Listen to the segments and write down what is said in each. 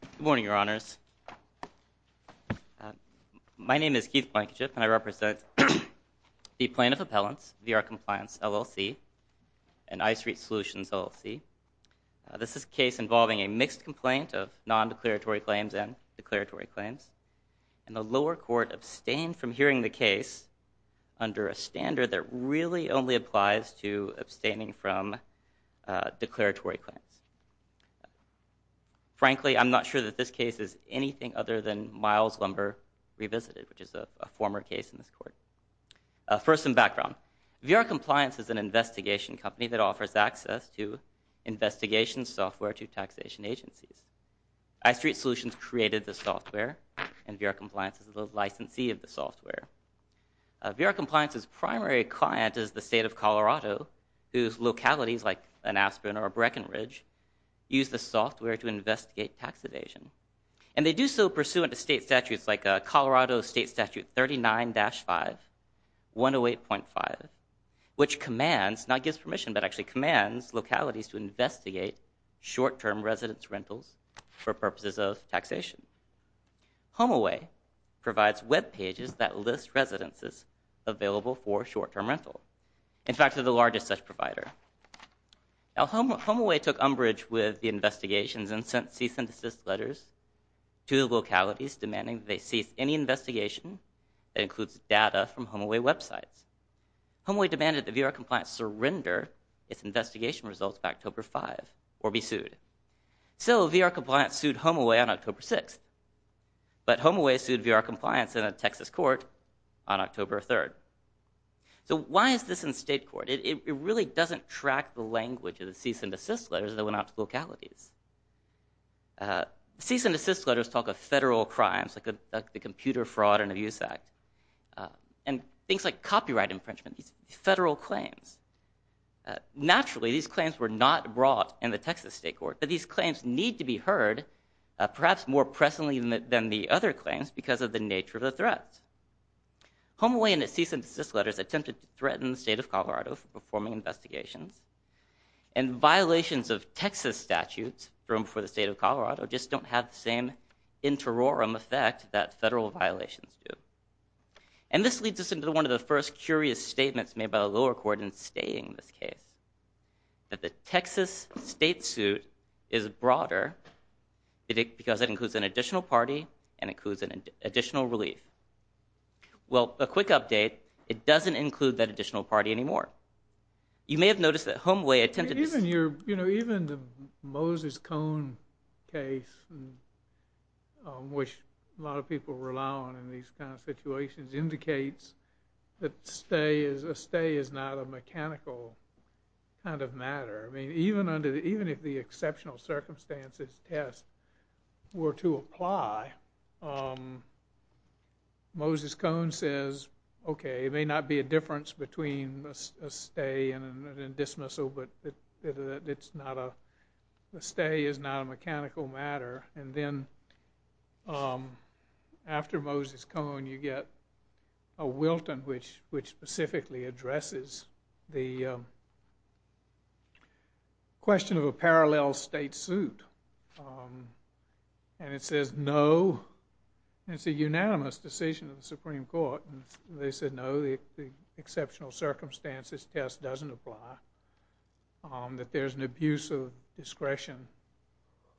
Good morning, Your Honors. My name is Keith Blankenship, and I represent the Plaintiff Appellants, VRCompliance LLC, and iStreet Solutions LLC. This is a case involving a mixed complaint of nondeclaratory claims and declaratory claims, and the lower court abstained from hearing the case under a standard that really only applies to frankly, I'm not sure that this case is anything other than Miles Lumber revisited, which is a former case in this court. First, some background. VRCompliance is an investigation company that offers access to investigation software to taxation agencies. iStreet Solutions created the software, and VRCompliance is the licensee of the software. VRCompliance's primary client is the state of Colorado, whose localities, like an Aspen or a Breckenridge, use the software to investigate taxation. And they do so pursuant to state statutes like Colorado State Statute 39-5, 108.5, which commands, not gives permission, but actually commands localities to investigate short-term residence rentals for purposes of taxation. Homeaway provides web pages that list residences available for short-term rental. In fact, they're the largest such provider. Now, Homeaway took umbrage with the investigations and sent cease and desist letters to the localities demanding they cease any investigation that includes data from Homeaway websites. Homeaway demanded that VRCompliance surrender its investigation results by October 5 or be sued. So VRCompliance sued Homeaway on October 6, but Homeaway sued VRCompliance in a Texas court on October 3. So why is this in state court? It really doesn't track the language of the cease and desist letters that went out to localities. Cease and desist letters talk of federal crimes, like the Computer Fraud and Abuse Act, and things like copyright infringement, these federal claims. Naturally, these claims were not brought in the Texas state court, but these claims need to be heard, perhaps more presently than the other claims, because of the nature of the threat. Homeaway in its cease and desist letters attempted to threaten the state of Colorado for performing investigations, and violations of Texas statutes thrown before the state of Colorado just don't have the same interorum effect that federal violations do. And this leads us into one of the first curious statements made by the lower court in stating this case, that the Texas state suit is broader because it includes an additional party and includes additional relief. Well, a quick update, it doesn't include that additional party anymore. You may have noticed that Homeaway attempted to... Even the Moses Cone case, which a lot of people rely on in these kinds of situations, indicates that a stay is not a mechanical kind of matter. I mean, even if the exceptional circumstances test were to apply, Moses Cone says, okay, it may not be a difference between a stay and a dismissal, but a stay is not a mechanical matter. And then, after Moses Cone, you get a Wilton, which specifically addresses the question of a parallel state suit. And it says, no, it's a unanimous decision of the Supreme Court, and they said, no, the exceptional circumstances test doesn't apply, that there's an abuse of discretion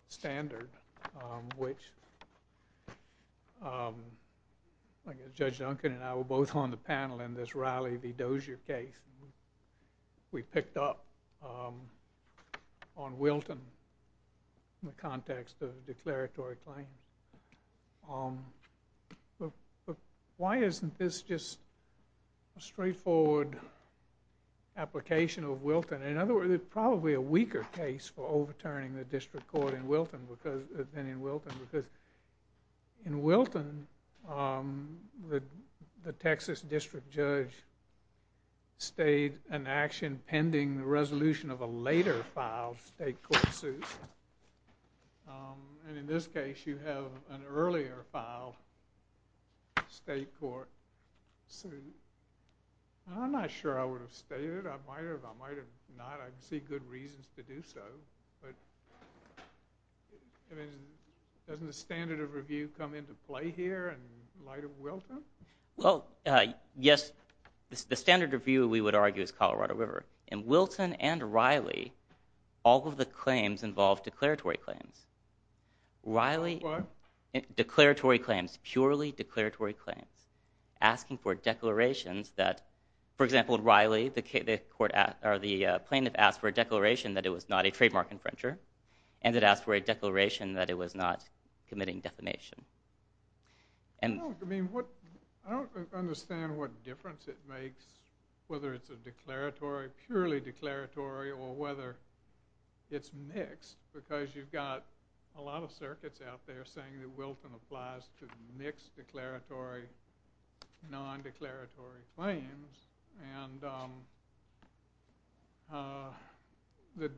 standard, which Judge Duncan and I were both on the panel in this Riley v. Dozier case. We picked up on Wilton in the context of declaratory claims. But why isn't this just a straightforward application of Wilton? In other words, it's probably a weaker case for overturning the district court in Wilton than in Wilton, because in Wilton, the Texas district judge stayed an action pending the resolution of a later filed state court suit. And in this case, you have an earlier filed state court suit. I'm not sure I would have stayed it. I might have, I might have not. I can see good reasons to do so. But, I mean, doesn't the standard of review come into play here in light of Wilton? Well, yes, the standard of review, we would argue, is Colorado River. In Wilton and Riley, all of the claims involved declaratory claims. Riley, declaratory claims, purely declaratory claims, asking for declarations that, for example, Riley, the plaintiff asked for a declaration that it was not a trademark infringer, and it asked for a declaration that it was not committing defamation. I don't understand what difference it makes whether it's a declaratory, purely declaratory, or whether it's mixed, because you've got a lot of circuits out there saying that Wilton applies to mixed declaratory, non-declaratory claims. And the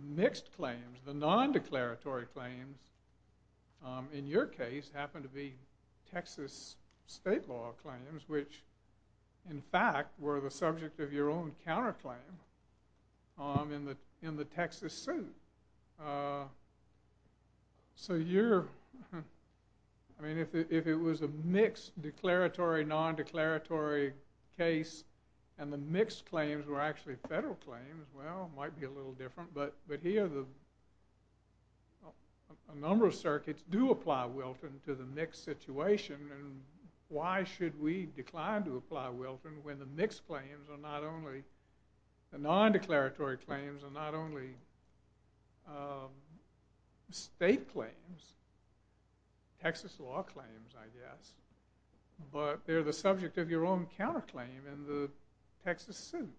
mixed claims, the non-declaratory claims, in your case, happen to be Texas state law claims, which, in fact, were the subject of your own counterclaim in the Texas suit. So you're, I mean, if it was a mixed declaratory, non-declaratory case, and the mixed claims were actually federal claims, well, it might be a little different. But here, a number of circuits do apply Wilton to the mixed situation, and why should we decline to apply Wilton when the mixed claims are not only, the non-declaratory claims are not only state claims, Texas law claims, I guess, but they're the subject of your own counterclaim in the Texas suit?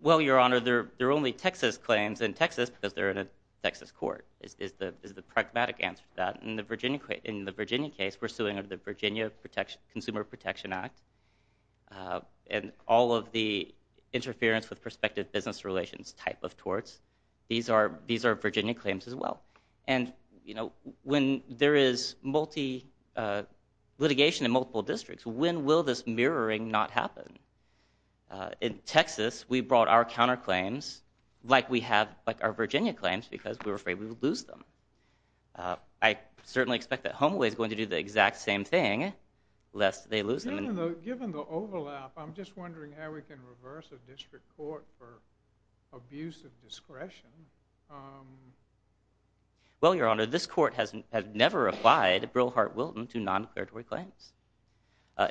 Well, Your Honor, they're only Texas claims in Texas because they're in a Texas court, is the pragmatic answer to that. In the Virginia case, we're suing under the Virginia Consumer Protection Act, and all of the interference with prospective business relations type of torts, these are Virginia claims as well. And, you know, when there is multi litigation in multiple districts, when will this mirroring not happen? In Texas, we brought our counterclaims like we have our Virginia claims because we were afraid we would lose them. I certainly expect that Home Away is going to do the exact same thing, lest they lose them. Given the overlap, I'm just wondering how we can reverse a district court for abuse of discretion. Well, Your Honor, this court has never applied Brilhart-Wilton to non-declaratory claims.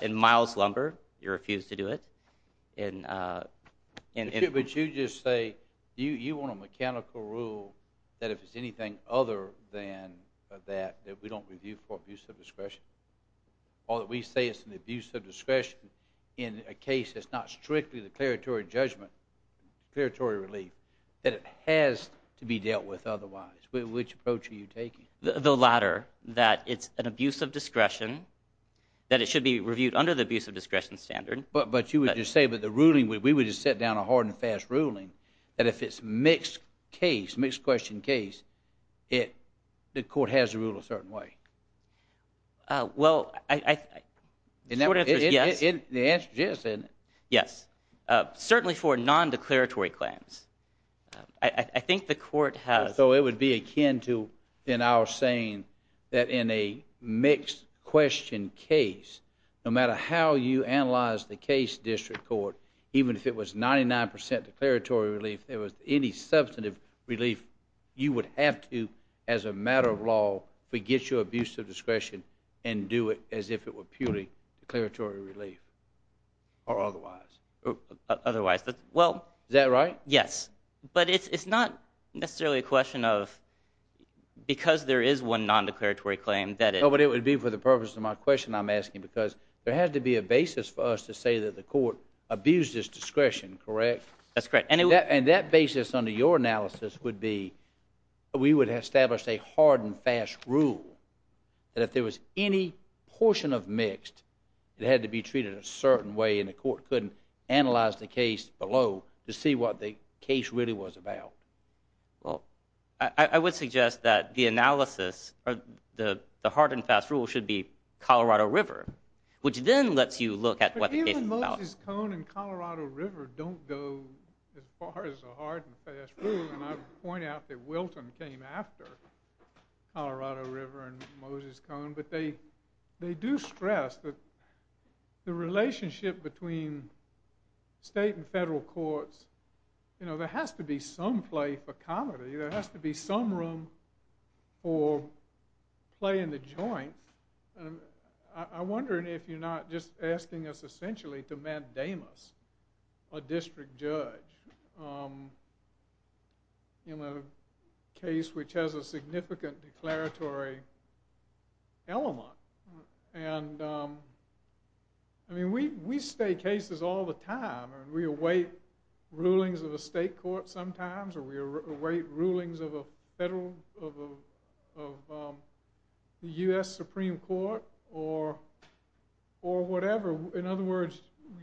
In Miles Lumber, you refused to do it. But you just say you want a mechanical rule that if it's anything other than that, that we don't review for abuse of discretion, or that we say it's an abuse of discretion in a case that's not strictly the declaratory judgment, declaratory relief, that it has to be dealt with otherwise. Which approach are you taking? The latter, that it's an abuse of discretion, that it should be reviewed under the abuse of discretion standard. But you would just say that the ruling, we would just set down a hard and fast ruling, that if it's a mixed-question case, the court has to rule a certain way. Well, the court answers yes. The answer is yes, isn't it? Yes, certainly for non-declaratory claims. I think the court has. So it would be akin to our saying that in a mixed-question case, no matter how you analyze the case, District Court, even if it was 99% declaratory relief, if there was any substantive relief, you would have to, as a matter of law, forget your abuse of discretion and do it as if it were purely declaratory relief. Or otherwise. Otherwise. Is that right? Yes. But it's not necessarily a question of because there is one non-declaratory claim that it... Because there has to be a basis for us to say that the court abused its discretion, correct? That's correct. And that basis under your analysis would be we would establish a hard and fast rule that if there was any portion of mixed, it had to be treated a certain way, and the court couldn't analyze the case below to see what the case really was about. Well, I would suggest that the analysis, the hard and fast rule, should be Colorado River, which then lets you look at what the case is about. But even Moses Cone and Colorado River don't go as far as a hard and fast rule, and I would point out that Wilton came after Colorado River and Moses Cone, but they do stress that the relationship between state and federal courts, you know, there has to be some play for comedy. There has to be some room for play in the joint. I'm wondering if you're not just asking us essentially to mandamus a district judge in a case which has a significant declaratory element. And, I mean, we state cases all the time, and we await rulings of a state court sometimes, or we await rulings of a federal, of a U.S. Supreme Court, or whatever. In other words,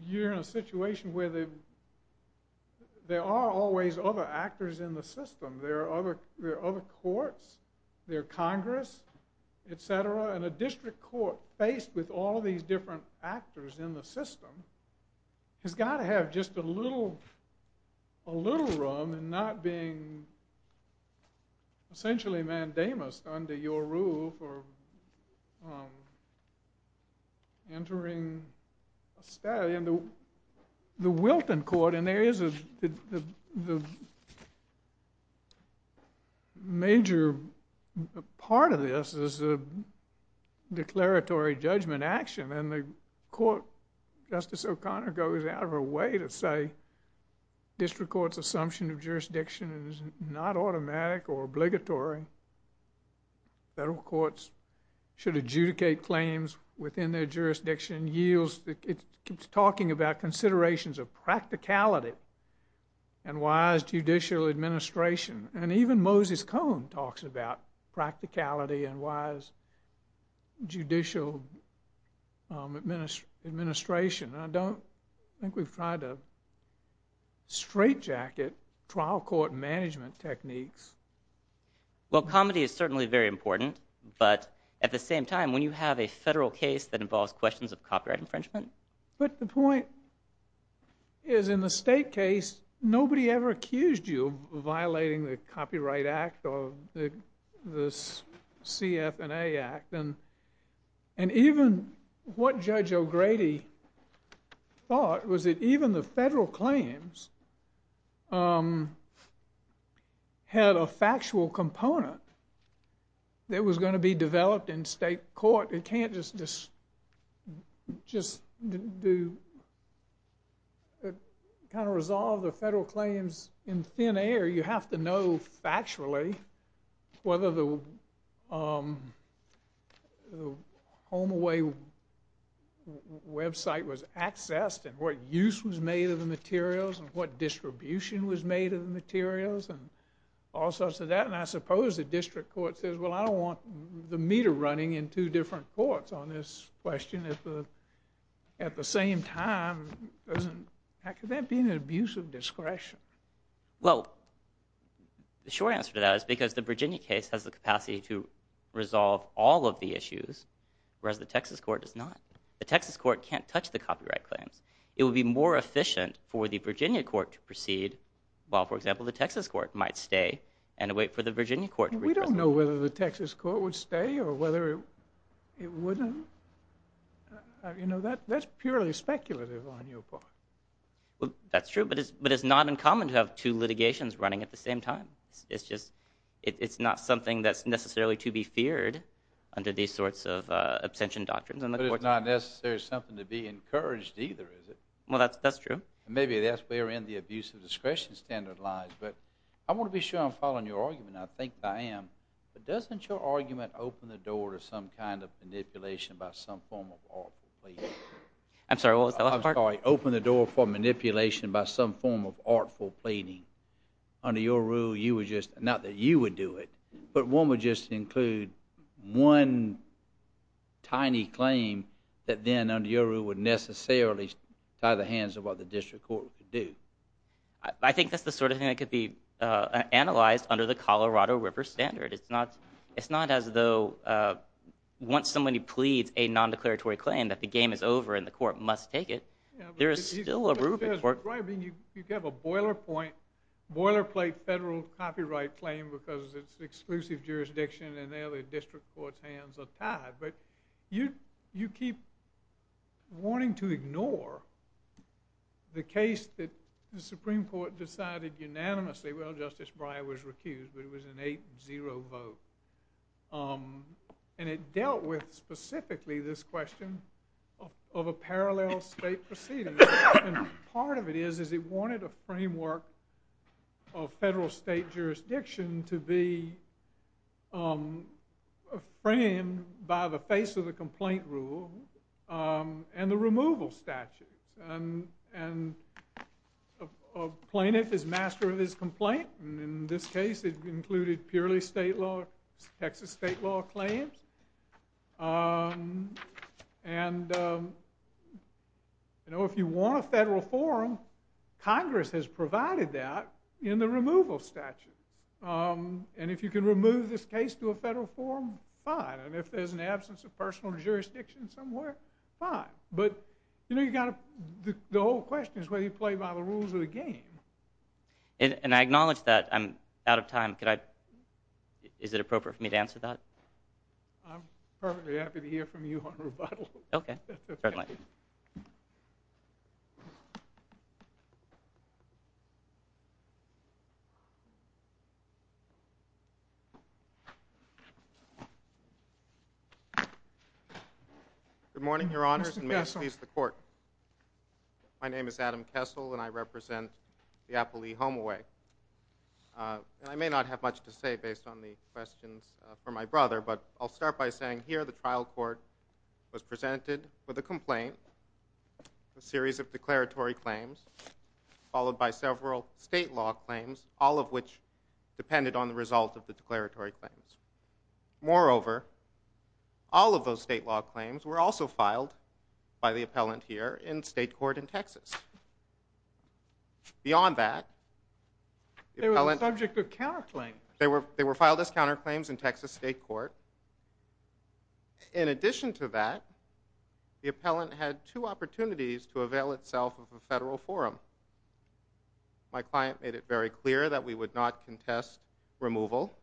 you're in a situation where there are always other actors in the system. There are other courts, there are Congress, et cetera, and a district court faced with all these different actors in the system has got to have just a little room in not being essentially mandamus under your rule for entering a statute. And the Wilton court, and there is a major part of this is a declaratory judgment action, and the court, Justice O'Connor goes out of her way to say district court's assumption of jurisdiction is not automatic or obligatory. Federal courts should adjudicate claims within their jurisdiction. It's talking about considerations of practicality and wise judicial administration. And even Moses Cone talks about practicality and wise judicial administration. I don't think we've tried to straitjacket trial court management techniques. Well, comedy is certainly very important, but at the same time, when you have a federal case that involves questions of copyright infringement. But the point is in the state case, nobody ever accused you of violating the Copyright Act or the CF&A Act. And even what Judge O'Grady thought was that even the federal claims had a factual component that was going to be developed in state court. It can't just kind of resolve the federal claims in thin air. You have to know factually whether the HomeAway website was accessed and what use was made of the materials and what distribution was made of the materials and all sorts of that. And I suppose the district court says, well, I don't want the meter running in two different courts on this question at the same time. Could that be an abuse of discretion? Well, the short answer to that is because the Virginia case has the capacity to resolve all of the issues, whereas the Texas court does not. The Texas court can't touch the copyright claims. It would be more efficient for the Virginia court to proceed while, for example, the Texas court might stay and wait for the Virginia court to... We don't know whether the Texas court would stay or whether it wouldn't. You know, that's purely speculative on your part. That's true, but it's not uncommon to have two litigations running at the same time. It's just it's not something that's necessarily to be feared under these sorts of abstention doctrines. But it's not necessarily something to be encouraged either, is it? Well, that's true. Maybe that's where the abuse of discretion standard lies. But I want to be sure I'm following your argument. I think I am. But doesn't your argument open the door to some kind of manipulation by some form of law? I'm sorry, what was the last part? Open the door for manipulation by some form of artful pleading. Under your rule, you would just, not that you would do it, but one would just include one tiny claim that then, under your rule, would necessarily tie the hands of what the district court would do. I think that's the sort of thing that could be analyzed under the Colorado River standard. It's not as though once somebody pleads a nondeclaratory claim that the game is over and the court must take it. There is still a rubric. You have a boilerplate federal copyright claim because it's exclusive jurisdiction, and there the district court's hands are tied. But you keep wanting to ignore the case that the Supreme Court decided unanimously. Well, Justice Breyer was recused, but it was an 8-0 vote. And it dealt with specifically this question of a parallel state proceeding. And part of it is it wanted a framework of federal state jurisdiction to be framed by the face of the complaint rule and the removal statute. And a plaintiff is master of his complaint. In this case, it included purely Texas state law claims. If you want a federal forum, Congress has provided that in the removal statute. And if you can remove this case to a federal forum, fine. And if there's an absence of personal jurisdiction somewhere, fine. But the whole question is whether you play by the rules of the game. And I acknowledge that I'm out of time. Is it appropriate for me to answer that? I'm perfectly happy to hear from you on rebuttal. Okay. Certainly. Good morning, Your Honors, and may it please the court. My name is Adam Kessel, and I represent the Applee Homeaway. And I may not have much to say based on the questions from my brother, but I'll start by saying here the trial court was presented with a complaint, a series of declaratory claims, followed by several state law claims, all of which depended on the result of the declaratory claims. Moreover, all of those state law claims were also filed by the appellant here in state court in Texas. Beyond that, the appellant... They were the subject of counterclaims. They were filed as counterclaims in Texas state court. In addition to that, the appellant had two opportunities to avail itself of a federal forum. My client made it very clear that we would not contest removal.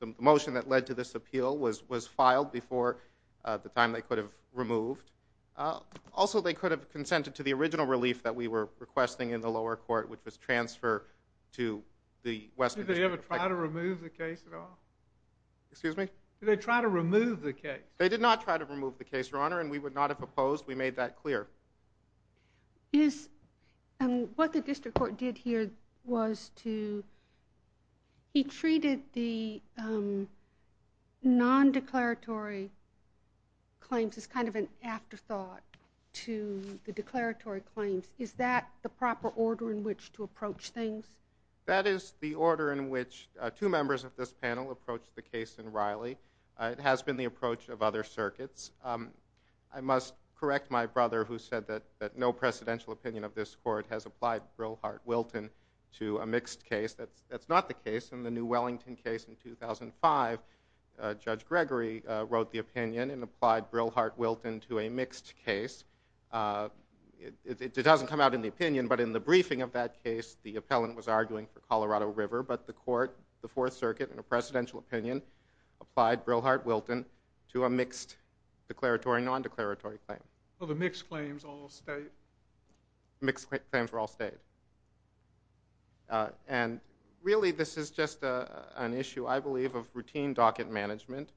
The motion that led to this appeal was filed before the time they could have removed. Also, they could have consented to the original relief that we were requesting in the lower court, which was transfer to the Western District Court. Did they ever try to remove the case at all? Excuse me? Did they try to remove the case? They did not try to remove the case, Your Honor, and we would not have opposed. We made that clear. What the district court did here was to... He treated the non-declaratory claims as kind of an afterthought to the declaratory claims. Is that the proper order in which to approach things? That is the order in which two members of this panel approached the case in Riley. It has been the approach of other circuits. I must correct my brother who said that no presidential opinion of this court has applied Brillhart-Wilton to a mixed case. That's not the case. In the New Wellington case in 2005, Judge Gregory wrote the opinion and applied Brillhart-Wilton to a mixed case. It doesn't come out in the opinion, but in the briefing of that case, the appellant was arguing for Colorado River, but the court, the Fourth Circuit, in a presidential opinion, applied Brillhart-Wilton to a mixed declaratory and non-declaratory claim. So the mixed claims all stayed? Mixed claims were all stayed. And really this is just an issue, I believe, of routine docket management.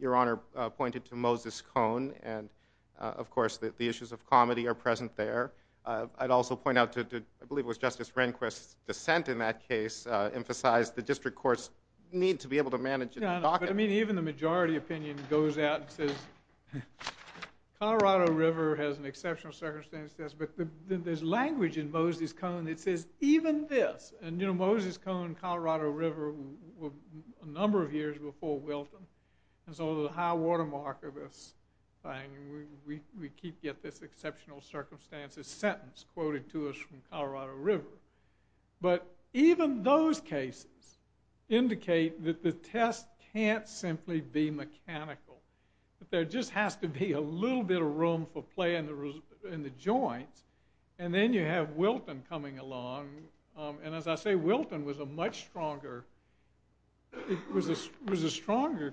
Your Honor pointed to Moses Cone, and of course the issues of comedy are present there. I'd also point out, I believe it was Justice Rehnquist's dissent in that case emphasized the district courts need to be able to manage a docket. I mean, even the majority opinion goes out and says Colorado River has an exceptional circumstance. But there's language in Moses Cone that says even this. And Moses Cone and Colorado River were a number of years before Wilton. And so the high watermark of this thing, we keep getting this exceptional circumstances sentence quoted to us from Colorado River. But even those cases indicate that the test can't simply be mechanical, that there just has to be a little bit of room for play in the joints. And then you have Wilton coming along. And as I say, Wilton was a much stronger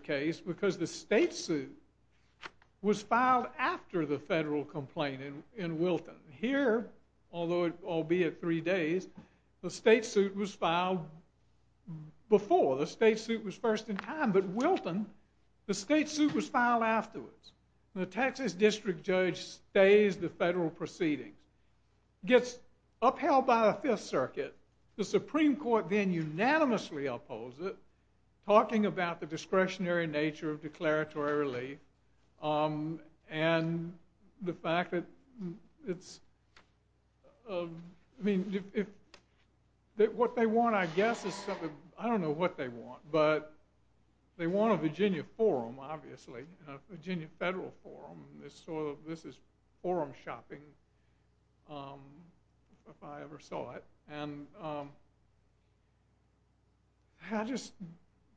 case because the state suit was filed after the federal complaint in Wilton. Here, albeit three days, the state suit was filed before. The state suit was first in time. But Wilton, the state suit was filed afterwards. And the Texas district judge stays the federal proceedings. Gets upheld by the Fifth Circuit. The Supreme Court then unanimously opposes it, talking about the discretionary nature of declaratory relief and the fact that what they want, I guess, is something. I don't know what they want. But they want a Virginia forum, obviously, a Virginia federal forum. This is forum shopping, if I ever saw it. And I just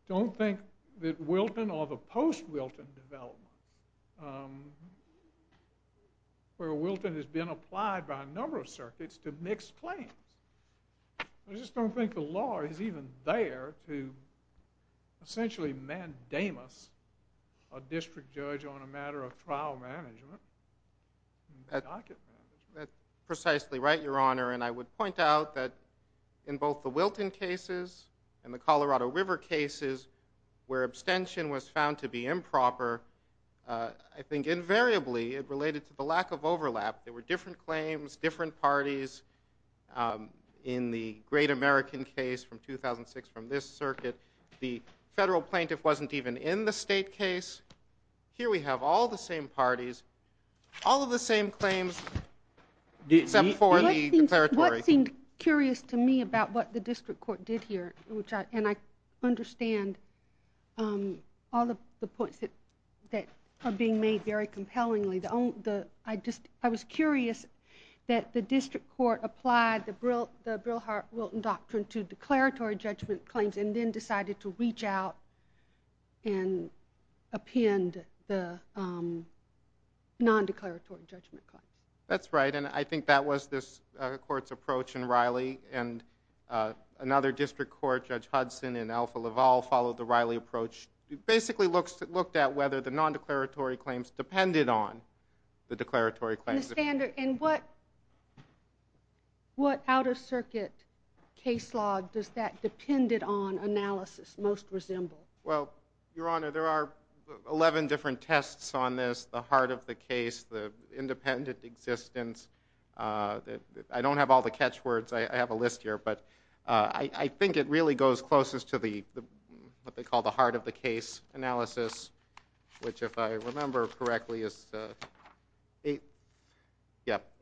don't think that Wilton or the post-Wilton development, where Wilton has been applied by a number of circuits to mixed claims, I just don't think the law is even there to essentially mandamus a district judge on a matter of trial management and docket management. That's precisely right, Your Honor. And I would point out that in both the Wilton cases and the Colorado River cases where abstention was found to be improper, I think invariably it related to the lack of overlap. There were different claims, different parties. In the great American case from 2006 from this circuit, the federal plaintiff wasn't even in the state case. Here we have all the same parties, all of the same claims except for the declaratory. What seemed curious to me about what the district court did here, and I understand all of the points that are being made very compellingly, I was curious that the district court applied the Brilhart-Wilton doctrine to declaratory judgment claims and then decided to reach out and append the non-declaratory judgment claim. That's right, and I think that was this court's approach in Riley. And another district court, Judge Hudson in Alpha Laval, followed the Riley approach, basically looked at whether the non-declaratory claims depended on the declaratory claims. And what outer circuit case law does that depended on analysis most resemble? Well, Your Honor, there are 11 different tests on this, the heart of the case, the independent existence. I don't have all the catch words. I have a list here, but I think it really goes closest to what they call the heart of the case analysis, which if I remember correctly is the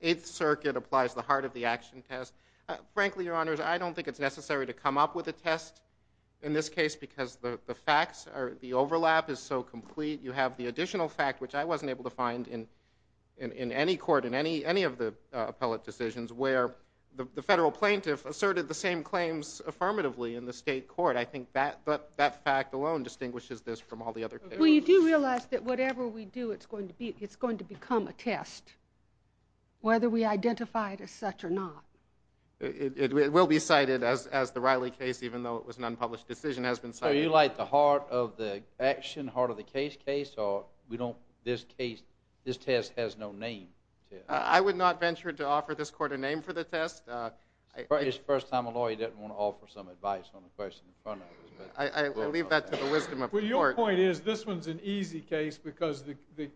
8th Circuit applies the heart of the action test. Frankly, Your Honors, I don't think it's necessary to come up with a test in this case because the facts, the overlap is so complete. You have the additional fact, which I wasn't able to find in any court, in any of the appellate decisions, where the federal plaintiff asserted the same claims affirmatively in the state court. I think that fact alone distinguishes this from all the other cases. Well, you do realize that whatever we do, it's going to become a test, whether we identify it as such or not. It will be cited as the Riley case, even though it was an unpublished decision, has been cited. So you like the heart of the action, heart of the case case, or this test has no name? I would not venture to offer this court a name for the test. It's the first time a lawyer doesn't want to offer some advice on the question in front of us. I leave that to the wisdom of the court. Well, your point is this one's an easy case because the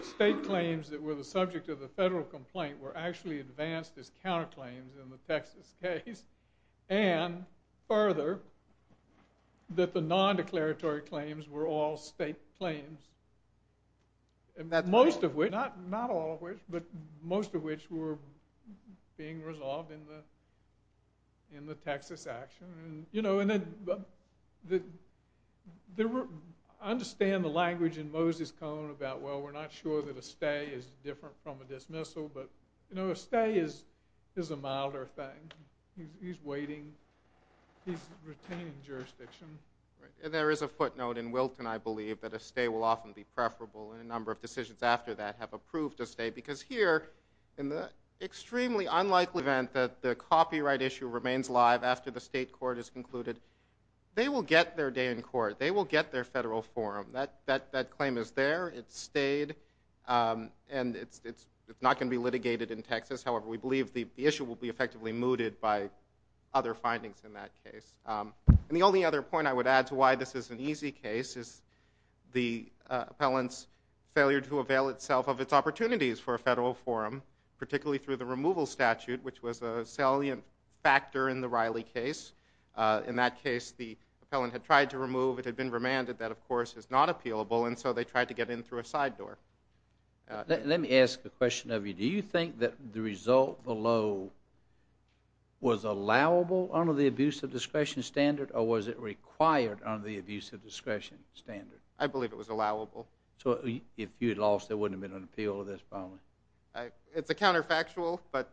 state claims that were the subject of the federal complaint were actually advanced as counterclaims in the Texas case, and further, that the non-declaratory claims were all state claims, most of which were being resolved in the Texas action. I understand the language in Moses Cone about, well, we're not sure that a stay is different from a dismissal, but a stay is a milder thing. He's waiting. He's retaining jurisdiction. There is a footnote in Wilton, I believe, that a stay will often be preferable, and a number of decisions after that have approved a stay, because here, in the extremely unlikely event that the copyright issue remains live after the state court has concluded, they will get their day in court. They will get their federal forum. That claim is there. It stayed, and it's not going to be litigated in Texas. However, we believe the issue will be effectively mooted by other findings in that case. And the only other point I would add to why this is an easy case is the appellant's failure to avail itself of its opportunities for a federal forum, particularly through the removal statute, which was a salient factor in the Riley case. In that case, the appellant had tried to remove, it had been remanded that, of course, is not appealable, and so they tried to get in through a side door. Let me ask a question of you. Do you think that the result below was allowable under the abuse of discretion standard, or was it required under the abuse of discretion standard? I believe it was allowable. So if you had lost, there wouldn't have been an appeal to this problem? It's a counterfactual, but,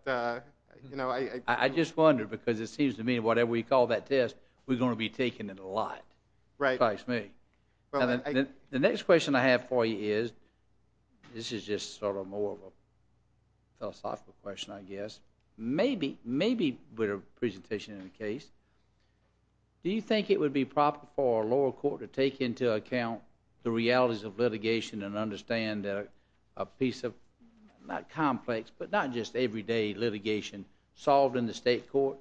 you know, I... I just wonder, because it seems to me, whatever we call that test, we're going to be taking it a lot. Right. The next question I have for you is, this is just sort of more of a philosophical question, I guess. Maybe with a presentation of the case, do you think it would be proper for a lower court to take into account the realities of litigation and understand that a piece of, not complex, but not just everyday litigation solved in the state court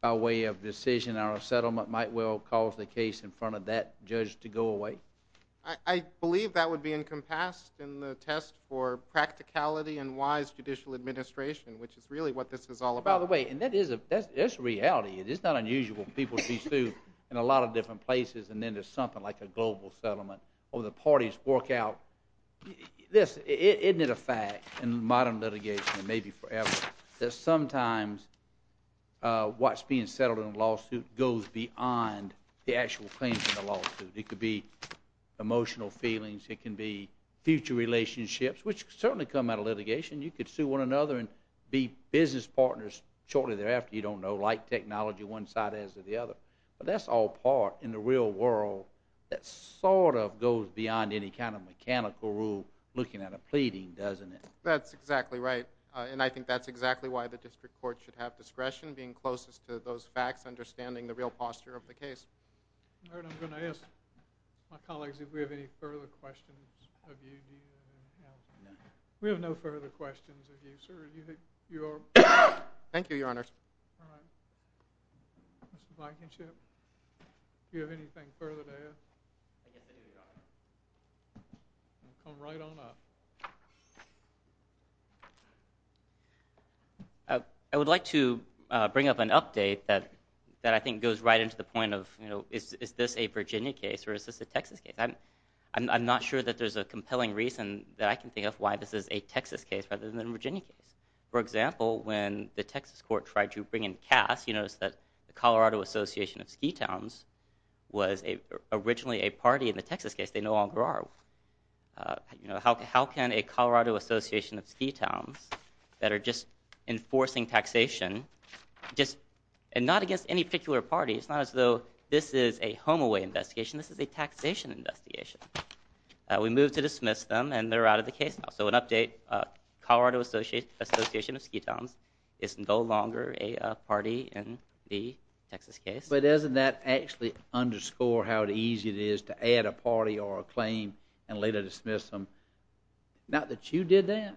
by way of decision or a settlement might well cause the case in front of that judge to go away? I believe that would be encompassed in the test for practicality and wise judicial administration, which is really what this is all about. By the way, and that is a reality. It is not unusual for people to be sued in a lot of different places, and then there's something like a global settlement, or the parties work out... This, isn't it a fact in modern litigation, and maybe forever, that sometimes what's being settled in a lawsuit goes beyond the actual claims in the lawsuit. It could be emotional feelings. It can be future relationships, which certainly come out of litigation. You could sue one another and be business partners shortly thereafter, you don't know, like technology, one side has it, the other. But that's all part, in the real world, that sort of goes beyond any kind of mechanical rule looking at a pleading, doesn't it? That's exactly right. And I think that's exactly why the district court should have discretion, being closest to those facts, understanding the real posture of the case. All right, I'm going to ask my colleagues if we have any further questions of you. We have no further questions of you, sir. Thank you, Your Honor. All right. Mr. Blankenship? Do you have anything further to add? I guess I do, Your Honor. Come right on up. I would like to bring up an update that I think goes right into the point of, is this a Virginia case or is this a Texas case? I'm not sure that there's a compelling reason that I can think of why this is a Texas case rather than a Virginia case. For example, when the Texas court tried to bring in Cass, you notice that the Colorado Association of Ski Towns was originally a party in the Texas case. They no longer are. How can a Colorado Association of Ski Towns that are just enforcing taxation, and not against any particular party, it's not as though this is a home-away investigation. This is a taxation investigation. We moved to dismiss them, and they're out of the case now. So an update, Colorado Association of Ski Towns is no longer a party in the Texas case. But doesn't that actually underscore how easy it is to add a party or a claim and later dismiss them? Not that you did that,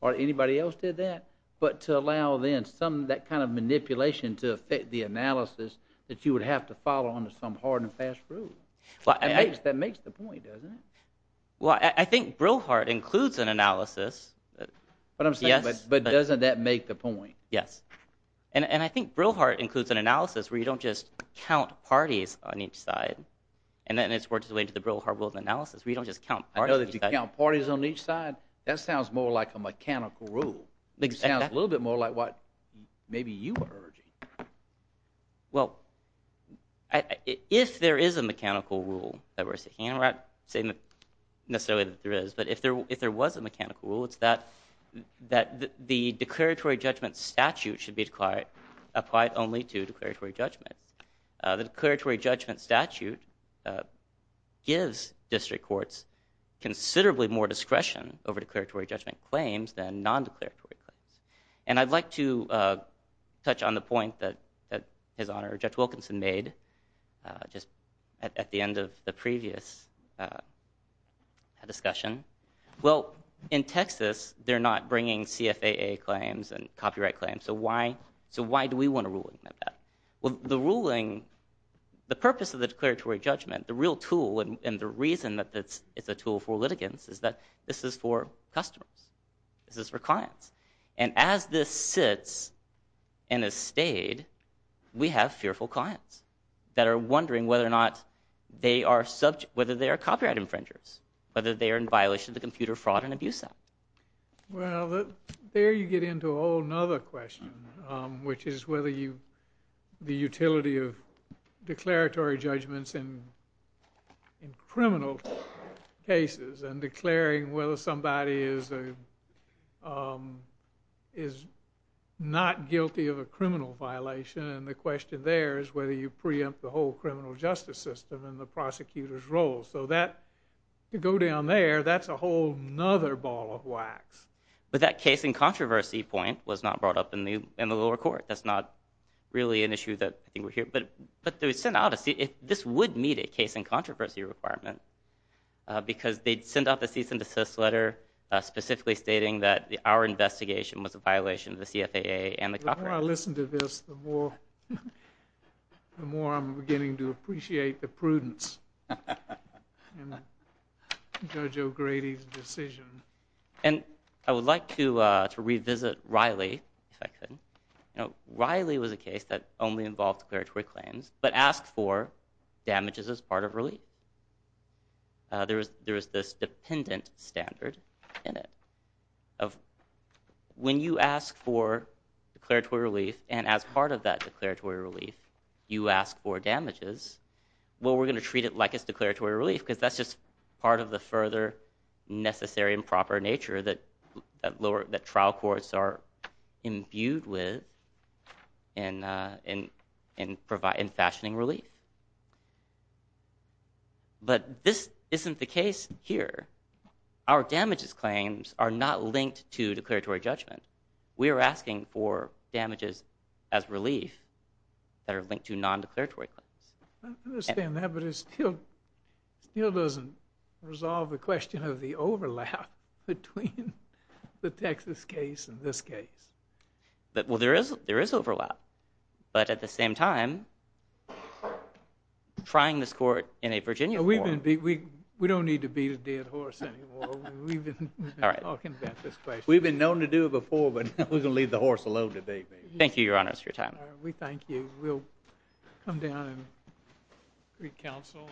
or anybody else did that, but to allow then that kind of manipulation to affect the analysis that you would have to follow under some hard and fast rule. That makes the point, doesn't it? Well, I think Brillhart includes an analysis. But doesn't that make the point? Yes. And I think Brillhart includes an analysis where you don't just count parties on each side. And then it's worked its way to the Brillhart rule of analysis where you don't just count parties on each side. I know that you count parties on each side. That sounds more like a mechanical rule. It sounds a little bit more like what maybe you were urging. Well, if there is a mechanical rule that we're seeking, I'm not saying necessarily that there is, but if there was a mechanical rule, it's that the declaratory judgment statute should be applied only to declaratory judgments. The declaratory judgment statute gives district courts considerably more discretion over declaratory judgment claims than non-declaratory claims. And I'd like to touch on the point that His Honor Judge Wilkinson made just at the end of the previous discussion. Well, in Texas, they're not bringing CFAA claims and copyright claims, so why do we want a ruling like that? Well, the ruling, the purpose of the declaratory judgment, the real tool and the reason that it's a tool for litigants is that this is for customers. This is for clients. And as this sits and has stayed, we have fearful clients that are wondering whether or not they are subject, whether they are copyright infringers, whether they are in violation of the Computer Fraud and Abuse Act. Well, there you get into a whole other question, which is whether the utility of declaratory judgments in criminal cases and declaring whether somebody is not guilty of a criminal violation, and the question there is whether you preempt the whole criminal justice system and the prosecutor's role. So that, to go down there, that's a whole other ball of wax. But that case in controversy point was not brought up in the lower court. That's not really an issue that I think we're hearing. But this would meet a case in controversy requirement because they'd send out the cease and desist letter specifically stating that our investigation was a violation of the CFAA and the copyrights. The more I listen to this, the more I'm beginning to appreciate the prudence in Judge O'Grady's decision. And I would like to revisit Riley, if I could. Riley was a case that only involved declaratory claims but asked for damages as part of relief. There was this dependent standard in it of when you ask for declaratory relief and as part of that declaratory relief, you ask for damages. Well, we're going to treat it like it's declaratory relief because that's just part of the further necessary and proper nature that trial courts are imbued with in fashioning relief. But this isn't the case here. Our damages claims are not linked to declaratory judgment. We are asking for damages as relief that are linked to non-declaratory claims. I understand that, but it still doesn't resolve the question of the overlap between the Texas case and this case. Well, there is overlap. But at the same time, trying this court in a Virginia court... We don't need to beat a dead horse anymore. We've been talking about this question. We've been known to do it before, but we're going to leave the horse alone today. Thank you, Your Honor, for your time. We thank you. We'll come down and re-counsel.